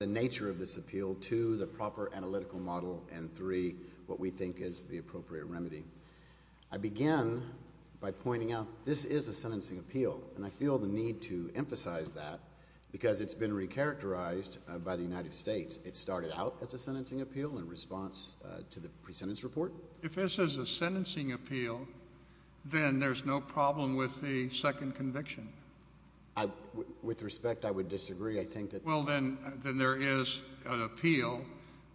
The nature of this appeal, two, the proper analytical model, and three, what we think is the appropriate remedy. I begin by pointing out this is a sentencing appeal, and I feel the need to emphasize that because it's been re-characterized by the United States. It started out as a sentencing appeal in response to the pre-sentence report. If this is a sentencing appeal, then there's no problem with the second conviction. With respect, I would disagree. I think that… Well, then there is an appeal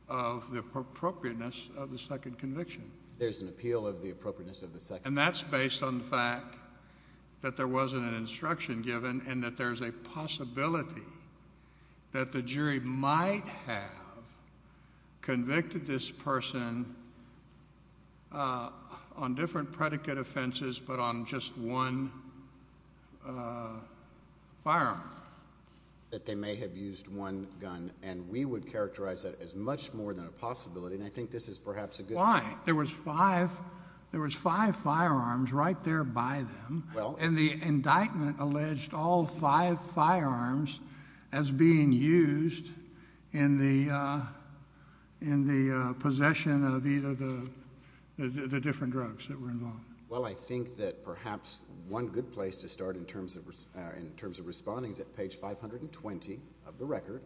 of the appropriateness of the second conviction. There's an appeal of the appropriateness of the second conviction. And that's based on the fact that there wasn't an instruction given and that there's a possibility that the jury might have convicted this person on different predicate offenses but on just one firearm. That they may have used one gun, and we would characterize that as much more than a possibility, and I think this is perhaps a good… Fine. There was five firearms right there by them, and the indictment alleged all five firearms as being used in the possession of either the different drugs that were involved. Well, I think that perhaps one good place to start in terms of responding is at page 520 of the record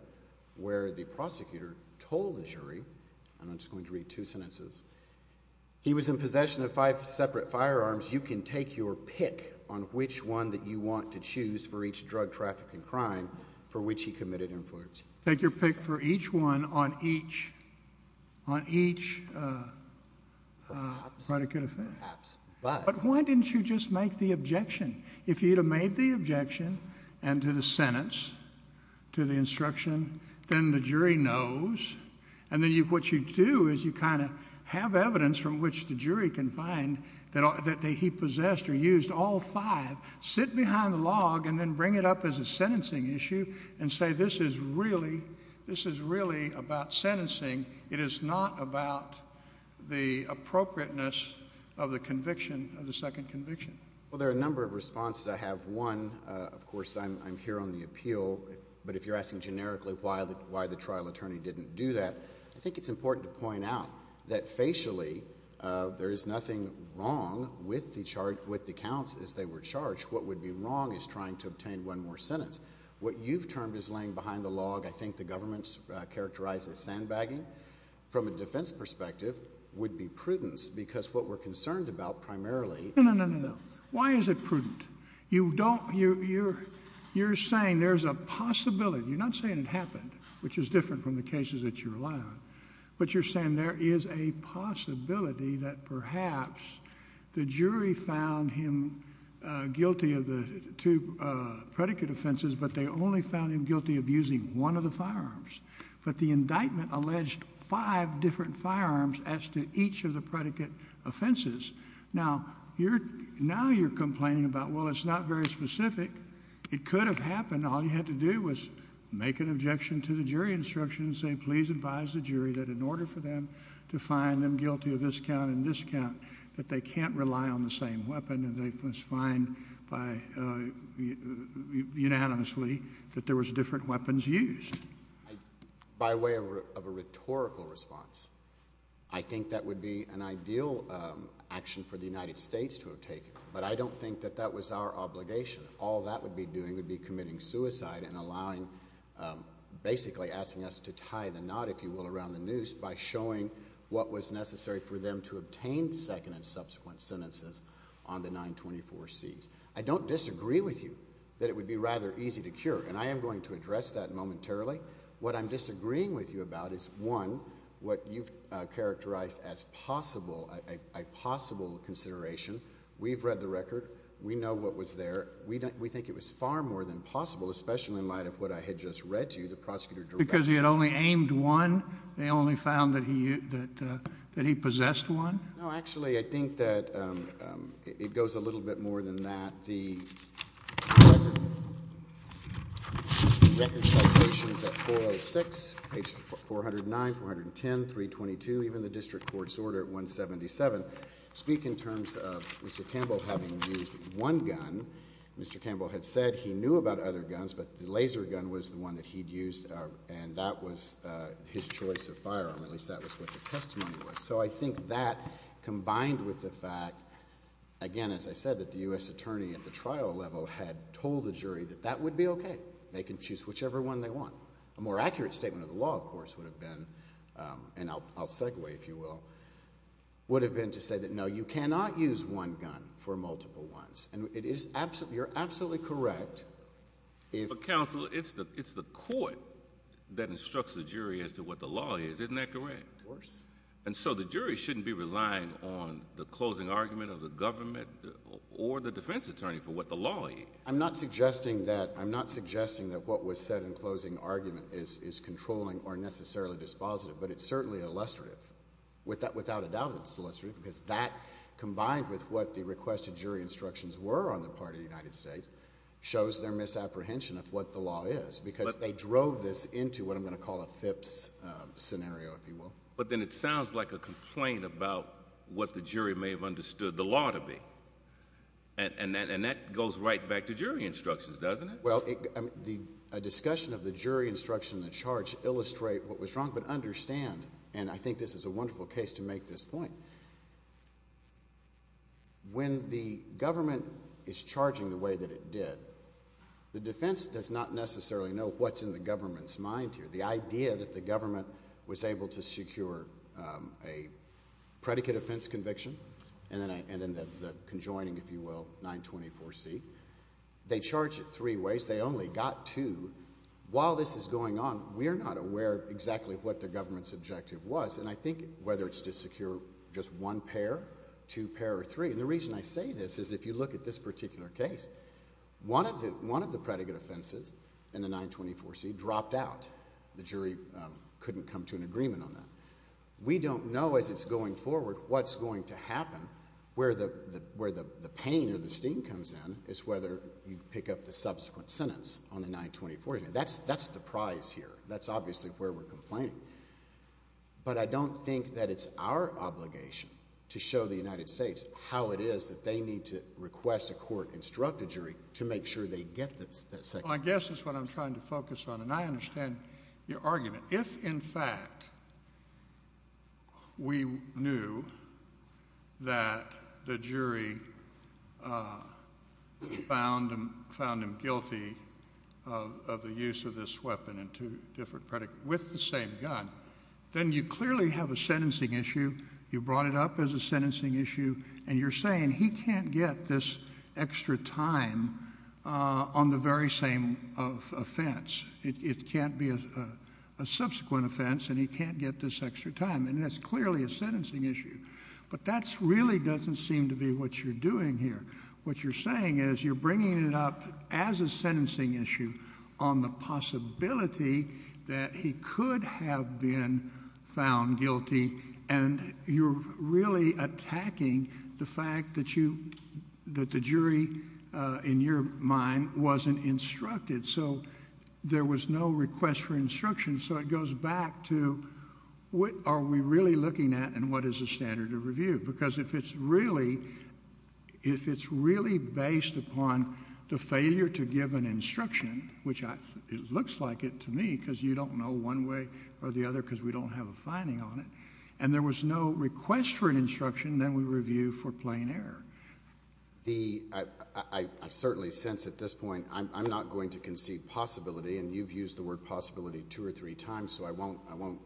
where the prosecutor told the jury, and I'm just going to read two sentences. He was in possession of five separate firearms. You can take your pick on which one that you want to choose for each drug, traffic, and crime for which he committed an offense. Take your pick for each one on each predicate offense. But why didn't you just make the objection? And to the sentence, to the instruction, then the jury knows, and then what you do is you kind of have evidence from which the jury can find that he possessed or used all five. Sit behind the log and then bring it up as a sentencing issue and say this is really about sentencing. It is not about the appropriateness of the conviction of the second conviction. Well, there are a number of responses. I have one. Of course, I'm here on the appeal, but if you're asking generically why the trial attorney didn't do that, I think it's important to point out that facially there is nothing wrong with the counts as they were charged. What would be wrong is trying to obtain one more sentence. What you've termed as laying behind the log, I think the government's characterized as sandbagging. From a defense perspective, would be prudence because what we're concerned about primarily is themselves. But the indictment alleged five different firearms as to each of the predicate offenses. Now you're complaining about, well, it's not very specific. It could have happened. All you had to do was make an objection to the jury instruction and say please advise the jury that in order for them to find them guilty of this count and this count that they can't rely on the same weapon. They must find unanimously that there was different weapons used. By way of a rhetorical response, I think that would be an ideal action for the United States to have taken, but I don't think that that was our obligation. All that would be doing would be committing suicide and basically asking us to tie the knot, if you will, around the noose by showing what was necessary for them to obtain second and subsequent sentences on the 924Cs. I don't disagree with you that it would be rather easy to cure, and I am going to address that momentarily. What I'm disagreeing with you about is, one, what you've characterized as a possible consideration. We've read the record. We know what was there. We think it was far more than possible, especially in light of what I had just read to you, the prosecutor directs. Because he had only aimed one? They only found that he possessed one? No, actually I think that it goes a little bit more than that. The record citations at 406, page 409, 410, 322, even the district court's order at 177, speak in terms of Mr. Campbell having used one gun. Mr. Campbell had said he knew about other guns, but the laser gun was the one that he'd used, and that was his choice of firearm. At least that was what the testimony was. So I think that, combined with the fact, again, as I said, that the U.S. attorney at the trial level had told the jury that that would be okay. They can choose whichever one they want. A more accurate statement of the law, of course, would have been, and I'll segue, if you will, would have been to say that, no, you cannot use one gun for multiple ones. And you're absolutely correct. But, counsel, it's the court that instructs the jury as to what the law is. Isn't that correct? Of course. And so the jury shouldn't be relying on the closing argument of the government or the defense attorney for what the law is. I'm not suggesting that what was said in closing argument is controlling or necessarily dispositive, but it's certainly illustrative. Without a doubt, it's illustrative, because that, combined with what the requested jury instructions were on the part of the United States, shows their misapprehension of what the law is, because they drove this into what I'm going to call a FIPS scenario, if you will. But then it sounds like a complaint about what the jury may have understood the law to be. And that goes right back to jury instructions, doesn't it? Well, a discussion of the jury instruction in the charge illustrates what was wrong, but understand, and I think this is a wonderful case to make this point, when the government is charging the way that it did, the defense does not necessarily know what's in the government's mind here. The idea that the government was able to secure a predicate offense conviction, and then the conjoining, if you will, 924C, they charge it three ways. They only got two. While this is going on, we're not aware exactly what the government's objective was. And I think whether it's to secure just one pair, two pair, or three. And the reason I say this is if you look at this particular case, one of the predicate offenses in the 924C dropped out. The jury couldn't come to an agreement on that. We don't know as it's going forward what's going to happen, where the pain or the steam comes in, is whether you pick up the subsequent sentence on the 924C. That's the prize here. That's obviously where we're complaining. But I don't think that it's our obligation to show the United States how it is that they need to request a court-instructed jury to make sure they get that second. Well, I guess that's what I'm trying to focus on, and I understand your argument. If, in fact, we knew that the jury found him guilty of the use of this weapon in two different predicates with the same gun, then you clearly have a sentencing issue. You brought it up as a sentencing issue, and you're saying he can't get this extra time on the very same offense. It can't be a subsequent offense, and he can't get this extra time, and that's clearly a sentencing issue. But that really doesn't seem to be what you're doing here. What you're saying is you're bringing it up as a sentencing issue on the possibility that he could have been found guilty, and you're really attacking the fact that the jury, in your mind, wasn't instructed. So there was no request for instruction. So it goes back to what are we really looking at and what is the standard of review? Because if it's really based upon the failure to give an instruction, which it looks like it to me, because you don't know one way or the other because we don't have a finding on it, and there was no request for an instruction, then we review for plain error. I certainly sense at this point I'm not going to concede possibility, and you've used the word possibility two or three times, so I won't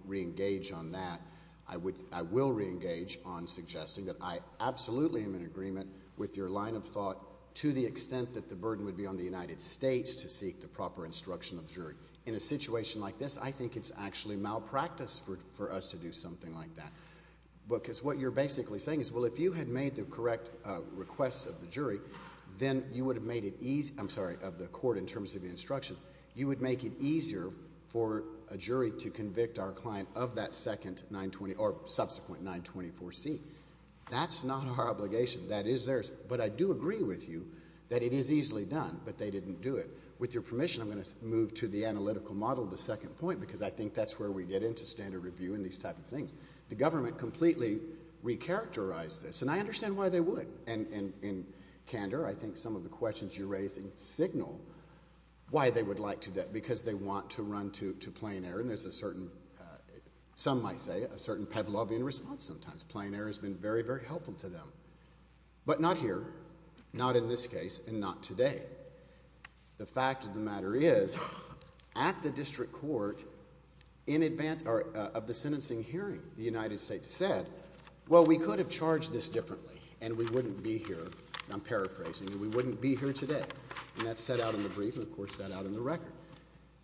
reengage on that. I will reengage on suggesting that I absolutely am in agreement with your line of thought to the extent that the burden would be on the United States to seek the proper instruction of the jury. In a situation like this, I think it's actually malpractice for us to do something like that. Because what you're basically saying is, well, if you had made the correct request of the jury, then you would have made it easier, I'm sorry, of the court in terms of the instruction, you would make it easier for a jury to convict our client of that second 920 or subsequent 924C. That's not our obligation. That is theirs. But I do agree with you that it is easily done, but they didn't do it. With your permission, I'm going to move to the analytical model, the second point, because I think that's where we get into standard review and these type of things. The government completely recharacterized this, and I understand why they would. And, Kander, I think some of the questions you're raising signal why they would like to do that, because they want to run to plain error, and there's a certain, some might say, a certain Pavlovian response sometimes. Plain error has been very, very helpful to them. But not here, not in this case, and not today. The fact of the matter is, at the district court, in advance of the sentencing hearing, the United States said, well, we could have charged this differently, and we wouldn't be here. I'm paraphrasing. We wouldn't be here today. And that's set out in the brief and, of course, set out in the record.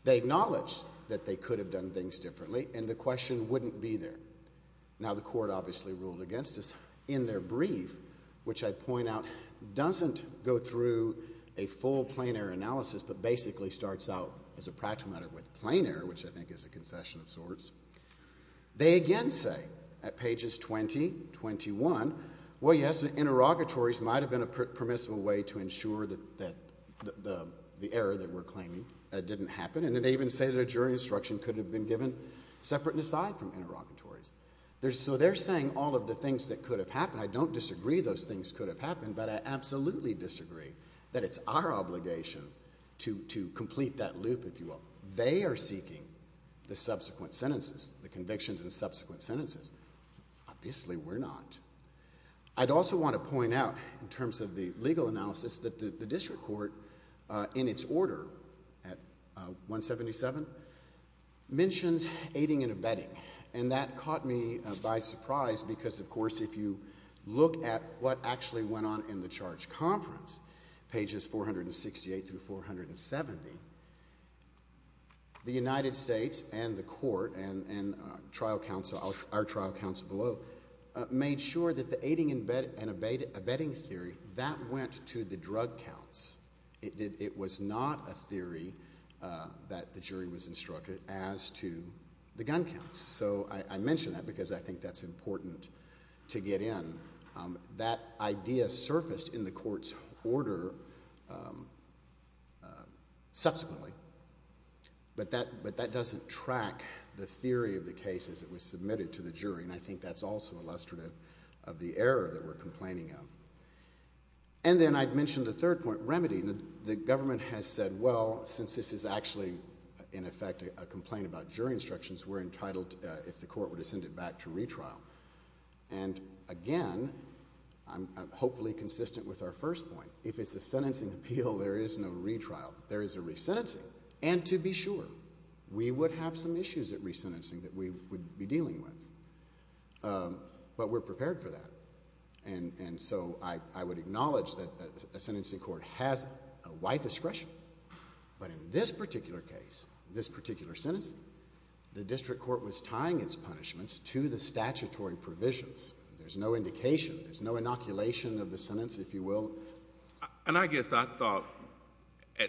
They acknowledge that they could have done things differently, and the question wouldn't be there. Now, the court obviously ruled against us. In their brief, which I'd point out, doesn't go through a full plain error analysis, but basically starts out, as a practical matter, with plain error, which I think is a concession of sorts. They again say, at pages 20, 21, well, yes, interrogatories might have been a permissible way to ensure that the error that we're claiming didn't happen. And then they even say that a jury instruction could have been given separate and aside from interrogatories. So they're saying all of the things that could have happened. I don't disagree those things could have happened, but I absolutely disagree that it's our obligation to complete that loop, if you will. They are seeking the subsequent sentences, the convictions and subsequent sentences. Obviously, we're not. I'd also want to point out, in terms of the legal analysis, that the district court, in its order at 177, mentions aiding and abetting. And that caught me by surprise because, of course, if you look at what actually went on in the charge conference, pages 468 through 470, the United States and the court and trial counsel, our trial counsel below, made sure that the aiding and abetting theory, that went to the drug counts. It was not a theory that the jury was instructed as to the gun counts. So I mention that because I think that's important to get in. That idea surfaced in the court's order subsequently. But that doesn't track the theory of the case as it was submitted to the jury. And I think that's also illustrative of the error that we're complaining of. And then I'd mention the third point, remedy. The government has said, well, since this is actually, in effect, a complaint about jury instructions, we're entitled, if the court were to send it back to retrial. And, again, I'm hopefully consistent with our first point. If it's a sentencing appeal, there is no retrial. There is a resentencing. And, to be sure, we would have some issues at resentencing that we would be dealing with. But we're prepared for that. And so I would acknowledge that a sentencing court has a wide discretion. But in this particular case, this particular sentencing, the district court was tying its punishments to the statutory provisions. There's no indication. There's no inoculation of the sentence, if you will. And I guess I thought,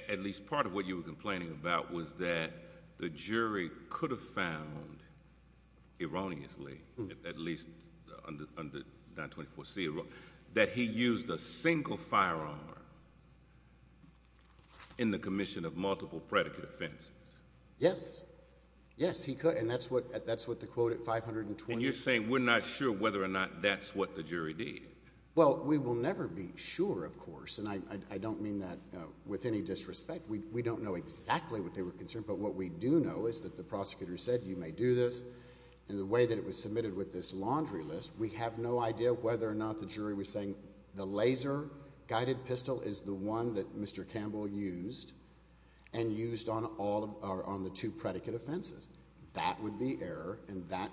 at least part of what you were complaining about, was that the jury could have found, erroneously, at least under 924C, that he used a single firearm in the commission of multiple predicate offenses. Yes. Yes, he could. And that's what the quote at 520. And you're saying we're not sure whether or not that's what the jury did. Well, we will never be sure, of course. And I don't mean that with any disrespect. We don't know exactly what they were concerned. But what we do know is that the prosecutor said, you may do this. And the way that it was submitted with this laundry list, we have no idea whether or not the jury was saying the laser-guided pistol is the one that Mr. Campbell used and used on the two predicate offenses. That would be error, and that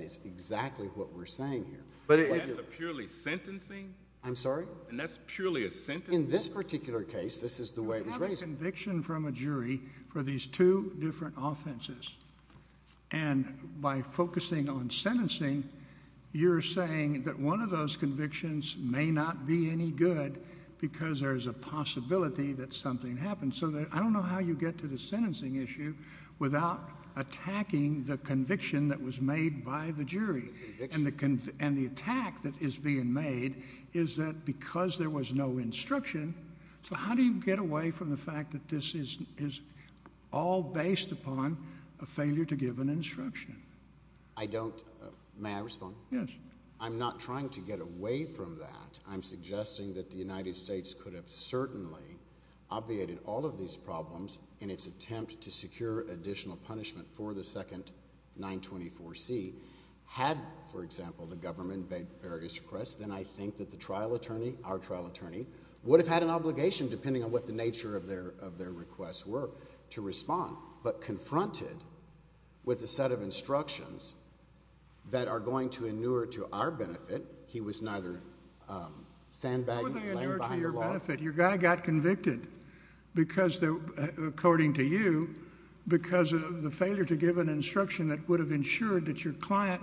is exactly what we're saying here. But that's a purely sentencing? I'm sorry? And that's purely a sentencing? In this particular case, this is the way it was raised. You have a conviction from a jury for these two different offenses, and by focusing on sentencing, you're saying that one of those convictions may not be any good because there's a possibility that something happened. So I don't know how you get to the sentencing issue The conviction. And the attack that is being made is that because there was no instruction, so how do you get away from the fact that this is all based upon a failure to give an instruction? I don't. May I respond? Yes. I'm not trying to get away from that. I'm suggesting that the United States could have certainly obviated all of these problems in its attempt to secure additional punishment for the second 924C had, for example, the government made various requests, then I think that the trial attorney, our trial attorney, would have had an obligation, depending on what the nature of their requests were, to respond. But confronted with a set of instructions that are going to inure to our benefit, he was neither sandbagged nor laying behind the law. Well, they inure to your benefit. Your guy got convicted because, according to you, because of the failure to give an instruction that would have ensured that your client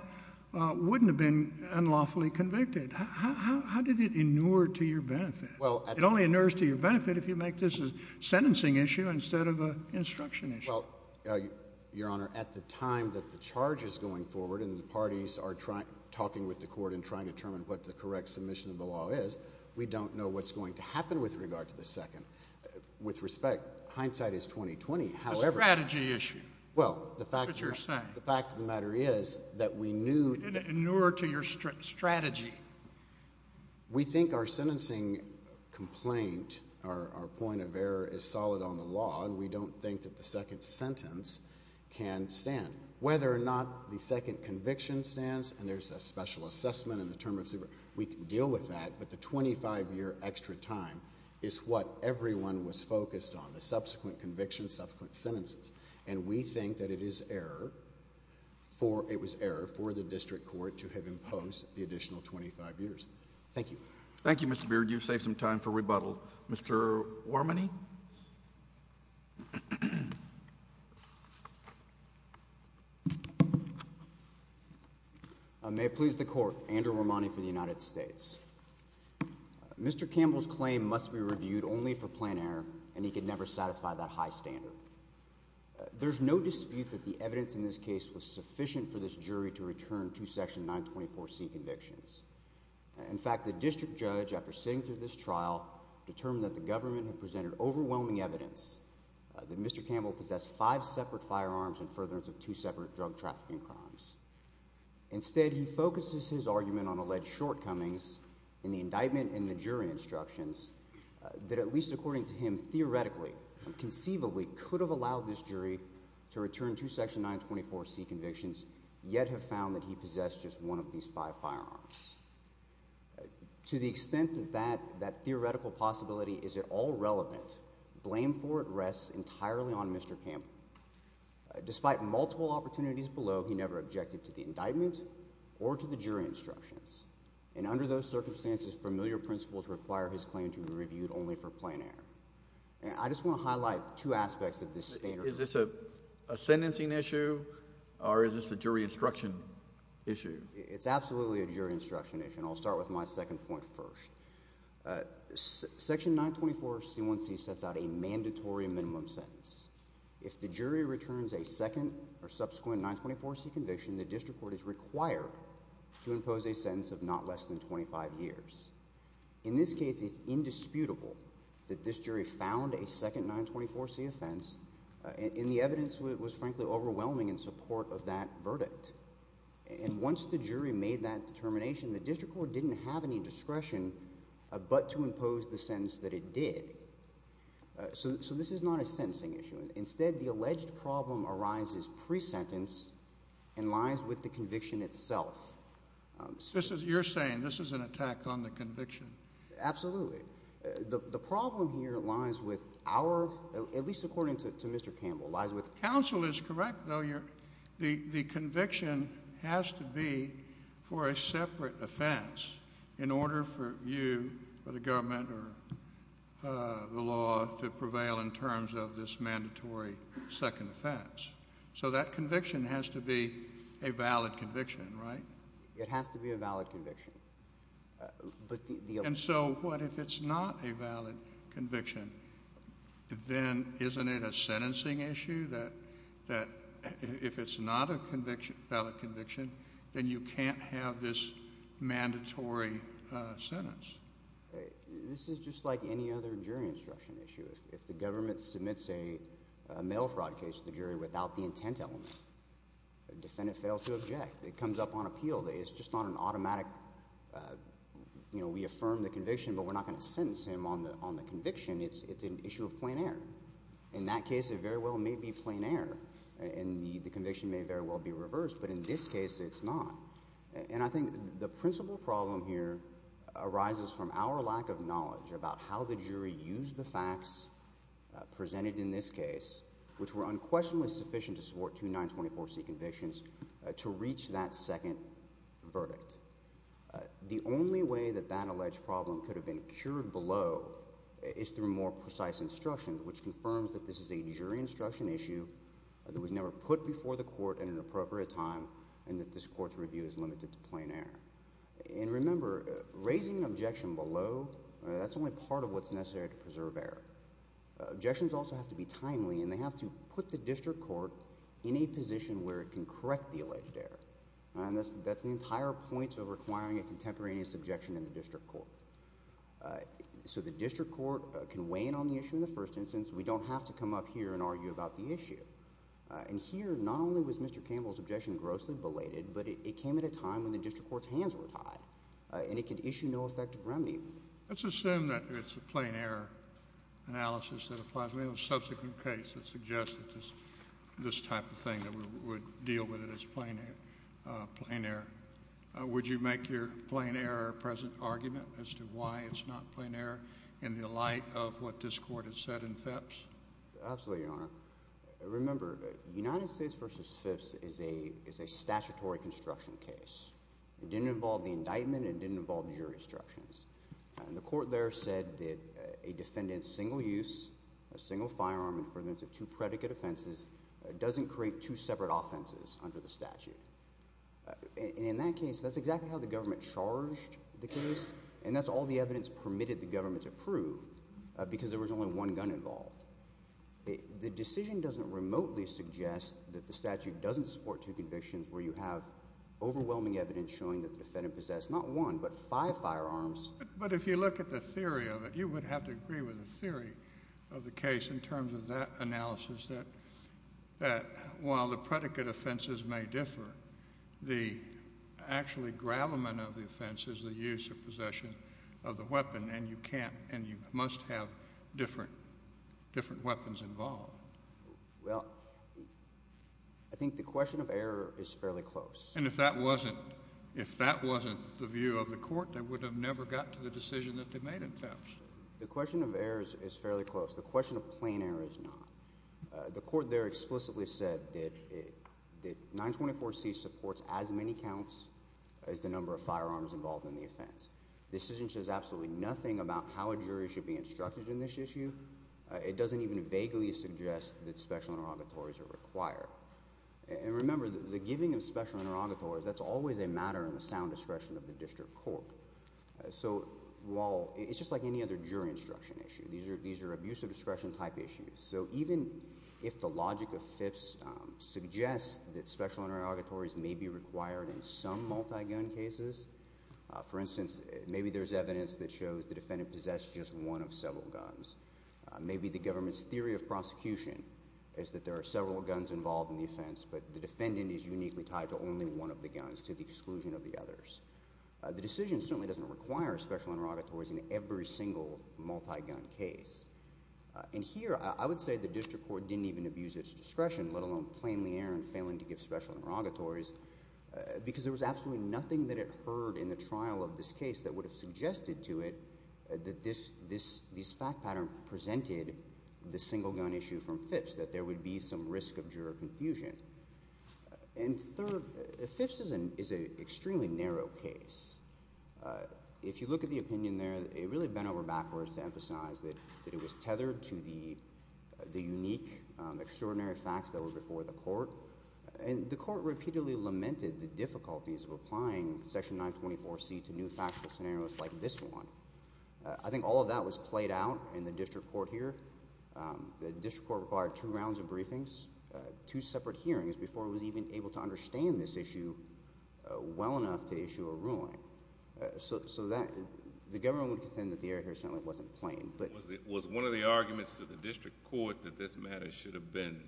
wouldn't have been unlawfully convicted. How did it inure to your benefit? It only inures to your benefit if you make this a sentencing issue instead of an instruction issue. Well, Your Honor, at the time that the charge is going forward and the parties are talking with the court and trying to determine what the correct submission of the law is, we don't know what's going to happen with regard to the second. With respect, hindsight is 20-20. A strategy issue. Well, the fact of the matter is that we knew... It inured to your strategy. We think our sentencing complaint, our point of error is solid on the law, and we don't think that the second sentence can stand. Whether or not the second conviction stands, and there's a special assessment in the term of super, we can deal with that, but the 25-year extra time is what everyone was focused on, the subsequent convictions, subsequent sentences, and we think that it is error for... It was error for the district court to have imposed the additional 25 years. Thank you. Thank you, Mr. Beard. You've saved some time for rebuttal. Mr. Wormany? May it please the Court, Andrew Wormany for the United States. Mr. Campbell's claim must be reviewed only for plan error and he could never satisfy that high standard. There's no dispute that the evidence in this case was sufficient for this jury to return to Section 924C convictions. In fact, the district judge, after sitting through this trial, determined that the government had presented overwhelming evidence that Mr. Campbell possessed five separate firearms in furtherance of two separate drug trafficking crimes. Instead, he focuses his argument on alleged shortcomings in the indictment and the jury instructions that at least according to him, theoretically, conceivably, could have allowed this jury to return to Section 924C convictions yet have found that he possessed just one of these five firearms. To the extent that that theoretical possibility is at all relevant, blame for it rests entirely on Mr. Campbell. Despite multiple opportunities below, he never objected to the indictment or to the jury instructions. And under those circumstances, familiar principles require his claim to be reviewed only for plan error. I just want to highlight two aspects of this statement. Is this a sentencing issue or is this a jury instruction issue? It's absolutely a jury instruction issue and I'll start with my second point first. Section 924C1C sets out a mandatory minimum sentence. If the jury returns a second or subsequent 924C conviction, the district court is required to impose a sentence of not less than 25 years. In this case, it's indisputable that this jury found a second 924C offense and the evidence was frankly overwhelming in support of that verdict. And once the jury made that determination, the district court didn't have any discretion but to impose the sentence that it did. So this is not a sentencing issue. Instead, the alleged problem arises pre-sentence and lies with the conviction itself. You're saying this is an attack on the conviction? Absolutely. The problem here lies with our, at least according to Mr. Campbell, lies with... Counsel is correct, though. The conviction has to be for a separate offense in order for you or the government or the law to prevail in terms of this mandatory second offense. So that conviction has to be a valid conviction, right? It has to be a valid conviction. And so what if it's not a valid conviction? Then isn't it a sentencing issue that if it's not a valid conviction, then you can't have this mandatory sentence? This is just like any other jury instruction issue. If the government submits a mail fraud case to the jury without the intent element, the defendant fails to object. It comes up on appeal. It's just not an automatic, you know, we affirm the conviction but we're not going to sentence him on the conviction. It's an issue of plein air. In that case, it very well may be plein air, and the conviction may very well be reversed, but in this case, it's not. And I think the principal problem here arises from our lack of knowledge about how the jury used the facts presented in this case, which were unquestionably sufficient to support two 924C convictions, to reach that second verdict. The only way that that alleged problem could have been cured below is through more precise instruction, which confirms that this is a jury instruction issue that was never put before the court at an appropriate time and that this court's review is limited to plein air. And remember, raising an objection below, that's only part of what's necessary to preserve error. Objections also have to be timely, and they have to put the district court in a position where it can correct the alleged error. And that's the entire point of requiring a contemporaneous objection in the district court. So the district court can weigh in on the issue in the first instance. We don't have to come up here and argue about the issue. And here, not only was Mr. Campbell's objection grossly belated, but it came at a time when the district court's hands were tied, and it could issue no effective remedy. Let's assume that it's a plein air analysis that applies. We have a subsequent case that suggested this type of thing, that we would deal with it as plein air. Would you make your plein air or present argument as to why it's not plein air in the light of what this court has said in Phipps? Absolutely, Your Honor. Remember, United States v. Phipps is a statutory construction case. It didn't involve the indictment. It didn't involve jury instructions. The court there said that a defendant's single use, a single firearm in the presence of two predicate offenses, doesn't create two separate offenses under the statute. In that case, that's exactly how the government charged the case, and that's all the evidence permitted the government to prove because there was only one gun involved. The decision doesn't remotely suggest that the statute doesn't support two convictions where you have overwhelming evidence showing that the defendant possessed not one but five firearms. But if you look at the theory of it, you would have to agree with the theory of the case in terms of that analysis, that while the predicate offenses may differ, the actually gravamen of the offense is the use or possession of the weapon, and you can't and you must have different weapons involved. Well, I think the question of error is fairly close. And if that wasn't the view of the court, they would have never got to the decision that they made in Phipps. The question of error is fairly close. The question of plain error is not. The court there explicitly said that 924C supports as many counts as the number of firearms involved in the offense. This isn't just absolutely nothing about how a jury should be instructed in this issue. It doesn't even vaguely suggest that special interrogatories are required. And remember, the giving of special interrogatories, that's always a matter of the sound discretion of the district court. So while it's just like any other jury instruction issue. These are abuse of discretion type issues. So even if the logic of Phipps suggests that special interrogatories may be required in some multi-gun cases, for instance, maybe there's evidence that shows the defendant possessed just one of several guns. Maybe the government's theory of prosecution is that there are several guns involved in the offense, but the defendant is uniquely tied to only one of the guns to the exclusion of the others. The decision certainly doesn't require special interrogatories in every single multi-gun case. And here I would say the district court didn't even abuse its discretion, let alone plainly err in failing to give special interrogatories, because there was absolutely nothing that it heard in the trial of this case that would have suggested to it that this fact pattern presented the single-gun issue from Phipps, that there would be some risk of juror confusion. And third, Phipps is an extremely narrow case. If you look at the opinion there, it really bent over backwards to emphasize that it was tethered to the unique, extraordinary facts that were before the court. And the court repeatedly lamented the difficulties of applying Section 924C to new factual scenarios like this one. I think all of that was played out in the district court here. The district court required two rounds of briefings, two separate hearings, before it was even able to understand this issue well enough to issue a ruling. So the government would contend that the error here certainly wasn't plain. Was one of the arguments to the district court that this matter should have been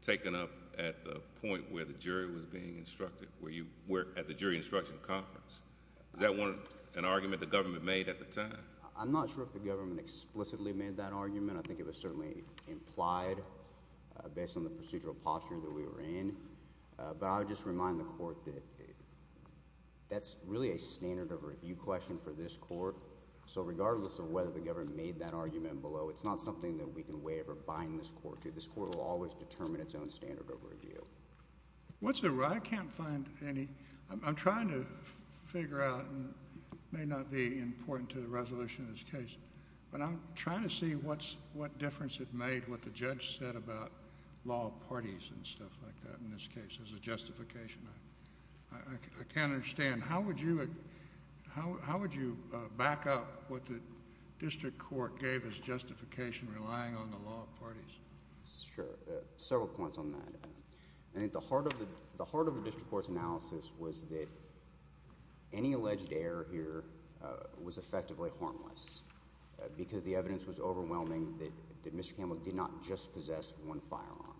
taken up at the point where the jury was being instructed, where you were at the jury instruction conference? Is that an argument the government made at the time? I'm not sure if the government explicitly made that argument. I think it was certainly implied based on the procedural posture that we were in. But I would just remind the court that that's really a standard of review question for this court. So regardless of whether the government made that argument below, it's not something that we can waive or bind this court to. This court will always determine its own standard of review. I can't find any. I'm trying to figure out, and it may not be important to the resolution of this case, but I'm trying to see what difference it made what the judge said about law parties and stuff like that in this case as a justification. I can't understand. How would you back up what the district court gave as justification relying on the law parties? Sure. Several points on that. I think the heart of the district court's analysis was that any alleged error here was effectively harmless because the evidence was overwhelming that Mr. Campbell did not just possess one firearm.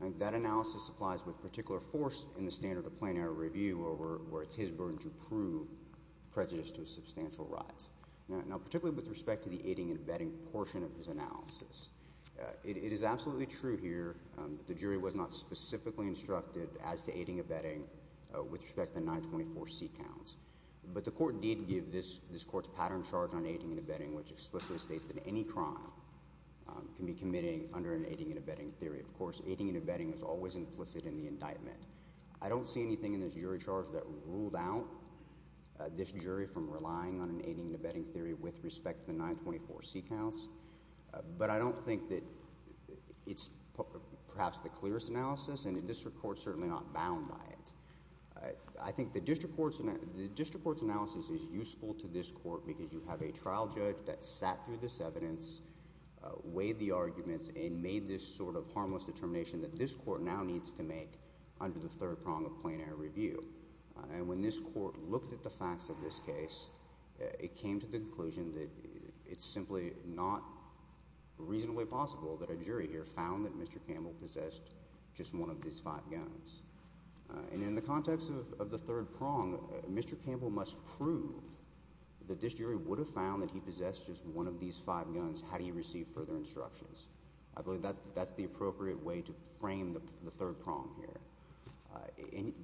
I think that analysis applies with particular force in the standard of plain error review where it's his burden to prove prejudice to substantial rights. Now, particularly with respect to the aiding and abetting portion of his analysis, it is absolutely true here that the jury was not specifically instructed as to aiding and abetting with respect to the 924C counts. But the court did give this court's pattern charge on aiding and abetting, which explicitly states that any crime can be committing under an aiding and abetting theory. Of course, aiding and abetting is always implicit in the indictment. I don't see anything in this jury charge that ruled out this jury from relying on an aiding and abetting theory with respect to the 924C counts. But I don't think that it's perhaps the clearest analysis, and the district court is certainly not bound by it. I think the district court's analysis is useful to this court because you have a trial judge that sat through this evidence, weighed the arguments, and made this sort of harmless determination that this court now needs to make under the third prong of plain error review. And when this court looked at the facts of this case, it came to the conclusion that it's simply not reasonably possible that a jury here found that Mr. Campbell possessed just one of these five guns. And in the context of the third prong, Mr. Campbell must prove that this jury would have found that he possessed just one of these five guns had he received further instructions. I believe that's the appropriate way to frame the third prong here. And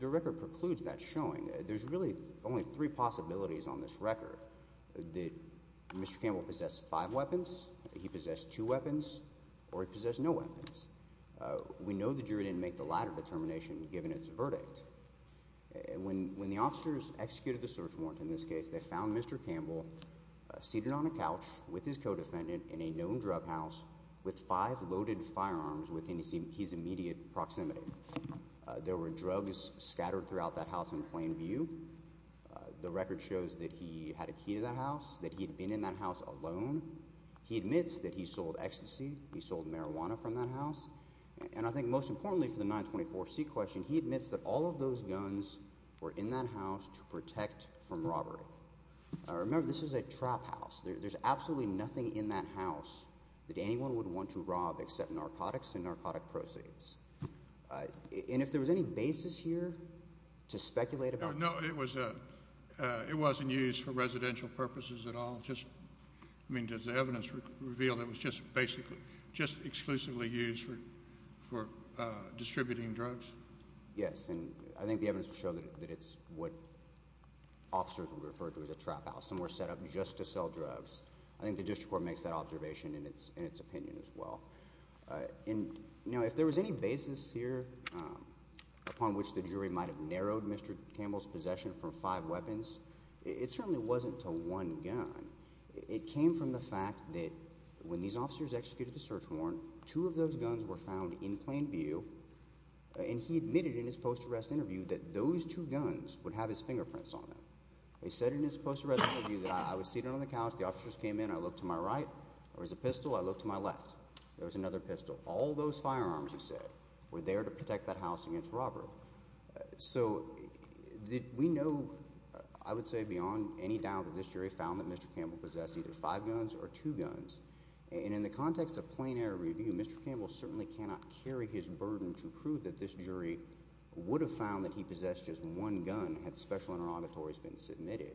the record precludes that showing. There's really only three possibilities on this record, that Mr. Campbell possessed five weapons, he possessed two weapons, or he possessed no weapons. We know the jury didn't make the latter determination given its verdict. When the officers executed the search warrant in this case, they found Mr. Campbell seated on a couch with his co-defendant in a known drug house with five loaded firearms within his immediate proximity. There were drugs scattered throughout that house in plain view. The record shows that he had a key to that house, that he had been in that house alone. He admits that he sold ecstasy. He sold marijuana from that house. And I think most importantly for the 924C question, he admits that all of those guns were in that house to protect from robbery. Remember, this is a trap house. There's absolutely nothing in that house that anyone would want to rob except narcotics and narcotic proceeds. And if there was any basis here to speculate about— No, it wasn't used for residential purposes at all. I mean does the evidence reveal that it was just exclusively used for distributing drugs? Yes, and I think the evidence would show that it's what officers would refer to as a trap house. Some were set up just to sell drugs. I think the district court makes that observation in its opinion as well. Now, if there was any basis here upon which the jury might have narrowed Mr. Campbell's possession from five weapons, it certainly wasn't to one gun. It came from the fact that when these officers executed the search warrant, two of those guns were found in plain view. And he admitted in his post-arrest interview that those two guns would have his fingerprints on them. He said in his post-arrest interview that, I was seated on the couch. The officers came in. I looked to my right. There was a pistol. I looked to my left. There was another pistol. All those firearms, he said, were there to protect that house against robbery. So we know, I would say, beyond any doubt that this jury found that Mr. Campbell possessed either five guns or two guns. And in the context of plain error review, Mr. Campbell certainly cannot carry his burden to prove that this jury would have found that he possessed just one gun had special interrogatories been submitted.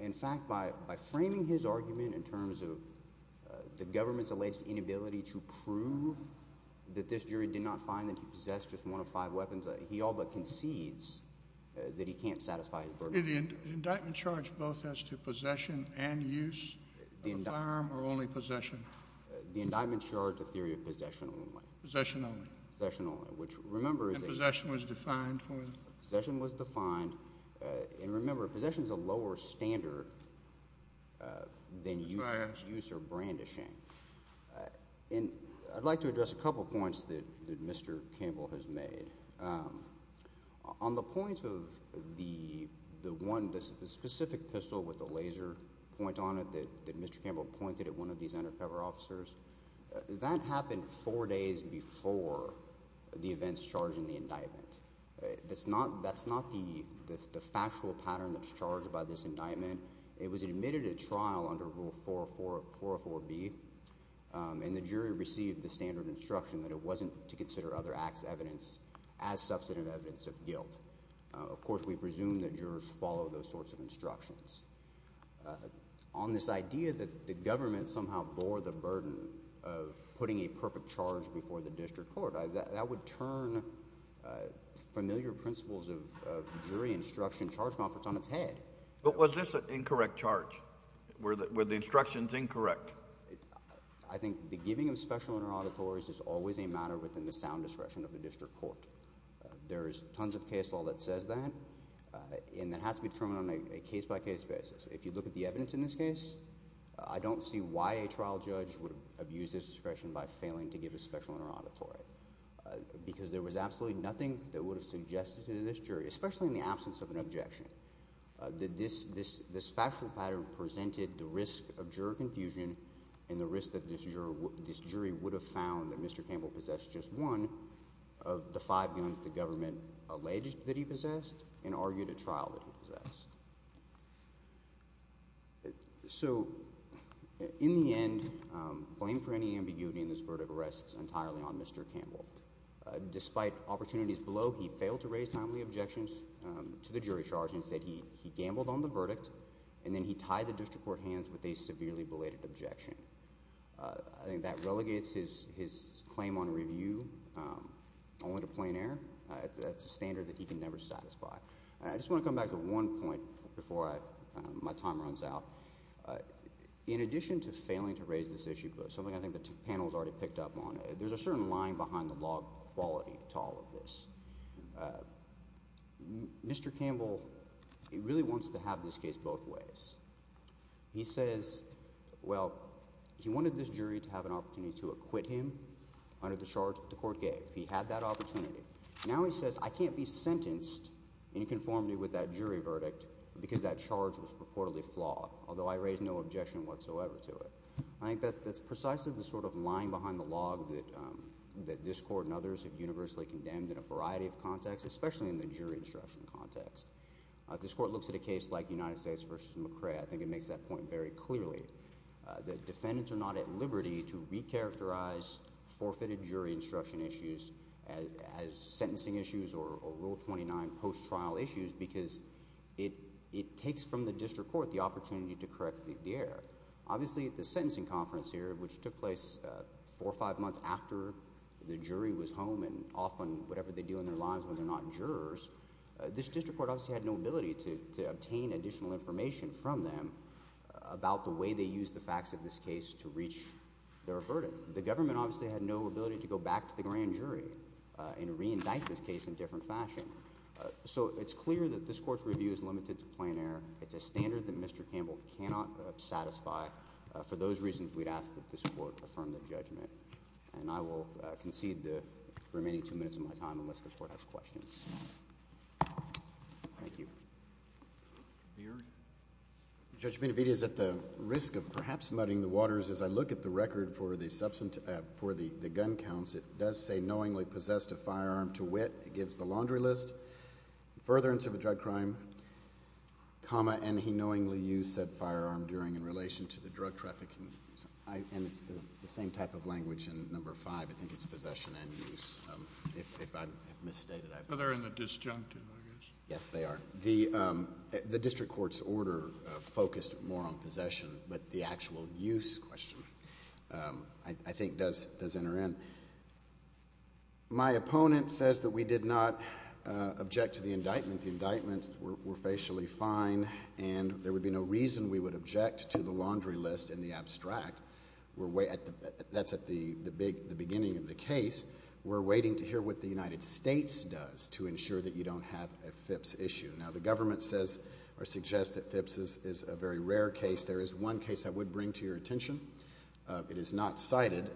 In fact, by framing his argument in terms of the government's alleged inability to prove that this jury did not find that he possessed just one of five weapons, he all but concedes that he can't satisfy his burden. Did the indictment charge both as to possession and use of a firearm or only possession? The indictment charged a theory of possession only. Possession only. Possession only, which remember is a— And possession was defined when? Possession was defined. And remember, possession is a lower standard than use or brandishing. And I'd like to address a couple points that Mr. Campbell has made. On the point of the one, the specific pistol with the laser point on it that Mr. Campbell pointed at one of these undercover officers, that happened four days before the events charged in the indictment. That's not the factual pattern that's charged by this indictment. It was admitted at trial under Rule 404B, and the jury received the standard instruction that it wasn't to consider other acts' evidence as substantive evidence of guilt. Of course, we presume that jurors follow those sorts of instructions. On this idea that the government somehow bore the burden of putting a perfect charge before the district court, that would turn familiar principles of jury instruction charging offers on its head. But was this an incorrect charge? Were the instructions incorrect? I think the giving of special order auditories is always a matter within the sound discretion of the district court. There is tons of case law that says that, and that has to be determined on a case-by-case basis. If you look at the evidence in this case, I don't see why a trial judge would abuse this discretion by failing to give a special order auditory. Because there was absolutely nothing that would have suggested to this jury, especially in the absence of an objection, that this factual pattern presented the risk of juror confusion and the risk that this jury would have found that Mr. Campbell possessed just one of the five guns the government alleged that he possessed and argued at trial that he possessed. So, in the end, blame for any ambiguity in this court of arrest is entirely on Mr. Campbell. Despite opportunities below, he failed to raise timely objections to the jury charge. Instead, he gambled on the verdict, and then he tied the district court hands with a severely belated objection. I think that relegates his claim on review only to plain error. That's a standard that he can never satisfy. I just want to come back to one point before my time runs out. In addition to failing to raise this issue, something I think the two panels already picked up on, there's a certain lying-behind-the-log quality to all of this. Mr. Campbell really wants to have this case both ways. He says, well, he wanted this jury to have an opportunity to acquit him under the charge that the court gave. He had that opportunity. Now he says, I can't be sentenced in conformity with that jury verdict because that charge was purportedly flawed, although I raised no objection whatsoever to it. I think that's precisely the sort of lying-behind-the-log that this court and others have universally condemned in a variety of contexts, especially in the jury instruction context. This court looks at a case like United States v. McRae. I think it makes that point very clearly that defendants are not at liberty to recharacterize forfeited jury instruction issues as sentencing issues or Rule 29 post-trial issues because it takes from the district court the opportunity to correct the error. Obviously, the sentencing conference here, which took place four or five months after the jury was home, and often whatever they do in their lives when they're not jurors, this district court obviously had no ability to obtain additional information from them about the way they used the facts of this case to reach their verdict. The government obviously had no ability to go back to the grand jury and reindict this case in a different fashion. So it's clear that this court's review is limited to plain error. It's a standard that Mr. Campbell cannot satisfy. For those reasons, we'd ask that this court affirm the judgment. And I will concede the remaining two minutes of my time unless the court has questions. Thank you. Your Honor? Judge Benavidez, at the risk of perhaps muddying the waters as I look at the record for the gun counts, it does say knowingly possessed a firearm to wit. It gives the laundry list. Furtherance of a drug crime, comma, and he knowingly used said firearm during in relation to the drug trafficking. And it's the same type of language in number five. I think it's possession and use. If I have misstated, I apologize. But they're in the disjuncted, I guess. Yes, they are. The district court's order focused more on possession, but the actual use question, I think, does enter in. My opponent says that we did not object to the indictment. The indictments were facially fine and there would be no reason we would object to the laundry list and the abstract. That's at the beginning of the case. We're waiting to hear what the United States does to ensure that you don't have a FIPS issue. Now, the government says or suggests that FIPS is a very rare case. There is one case I would bring to your attention. It is not cited.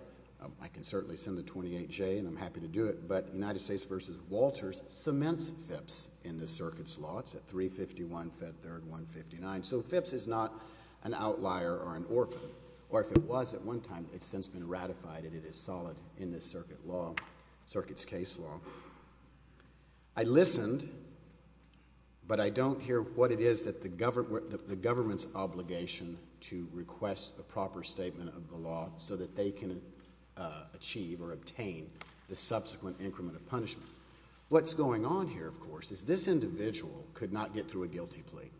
I can certainly send the 28-J and I'm happy to do it. But United States v. Walters cements FIPS in this circuit's law. It's at 351 Fed Third 159. So FIPS is not an outlier or an orphan. Or if it was at one time, it's since been ratified and it is solid in this circuit's case law. I listened, but I don't hear what it is that the government's obligation to request a proper statement of the law so that they can achieve or obtain the subsequent increment of punishment. What's going on here, of course, is this individual could not get through a guilty plea.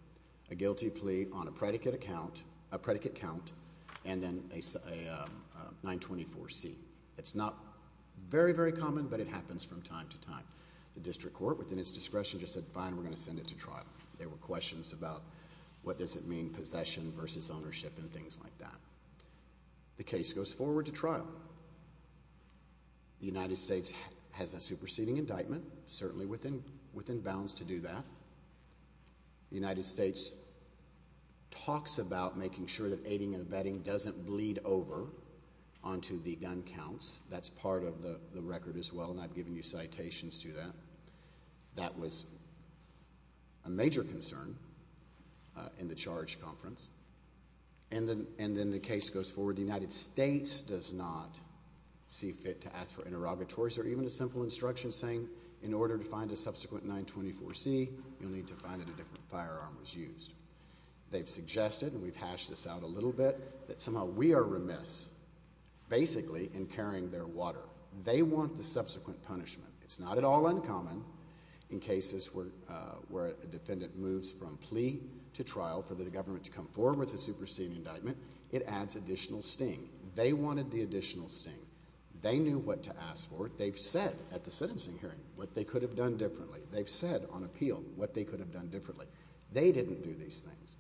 A guilty plea on a predicate count and then a 924C. It's not very, very common, but it happens from time to time. The district court, within its discretion, just said, fine, we're going to send it to trial. There were questions about what does it mean, possession versus ownership and things like that. The case goes forward to trial. The United States has a superseding indictment, certainly within bounds to do that. The United States talks about making sure that aiding and abetting doesn't bleed over onto the gun counts. That's part of the record as well, and I've given you citations to that. That was a major concern in the charge conference. And then the case goes forward. The United States does not see fit to ask for interrogatories or even a simple instruction saying, in order to find a subsequent 924C, you'll need to find that a different firearm was used. They've suggested, and we've hashed this out a little bit, that somehow we are remiss basically in carrying their water. They want the subsequent punishment. It's not at all uncommon in cases where a defendant moves from plea to trial for the government to come forward with a superseding indictment. It adds additional sting. They wanted the additional sting. They knew what to ask for. They've said at the sentencing hearing what they could have done differently. They've said on appeal what they could have done differently. They didn't do these things.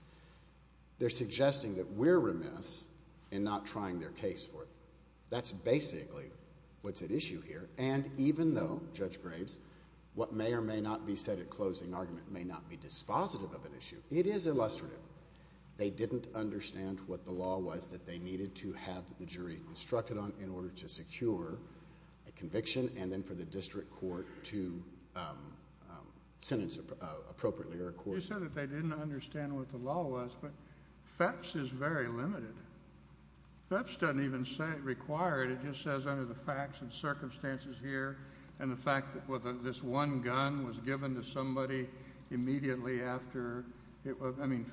They're suggesting that we're remiss in not trying their case for it. That's basically what's at issue here. And even though, Judge Graves, what may or may not be said at closing argument may not be dispositive of an issue, it is illustrative. They didn't understand what the law was that they needed to have the jury instructed on in order to secure a conviction and then for the district court to sentence appropriately or accordingly. You said that they didn't understand what the law was, but FEPPS is very limited. FEPPS doesn't even say it required. It just says under the facts and circumstances here and the fact that this one gun was given to somebody immediately after it was – I mean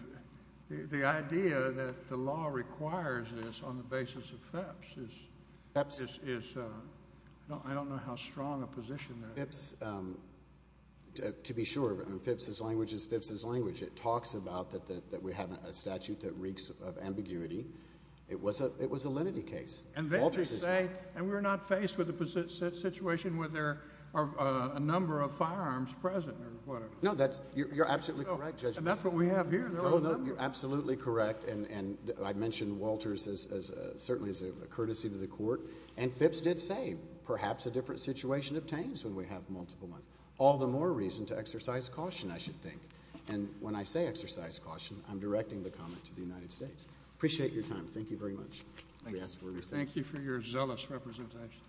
the idea that the law requires this on the basis of FEPPS is – I don't know how strong a position that is. FEPPS, to be sure, FEPPS's language is FEPPS's language. It talks about that we have a statute that reeks of ambiguity. It was a lenity case. And we're not faced with a situation where there are a number of firearms present or whatever. No, you're absolutely correct, Judge. And that's what we have here. Oh, no, you're absolutely correct. And I mentioned Walters certainly as a courtesy to the court. And FEPPS did say perhaps a different situation obtains when we have multiple. All the more reason to exercise caution, I should think. And when I say exercise caution, I'm directing the comment to the United States. Appreciate your time. Thank you very much. Thank you for your zealous representation.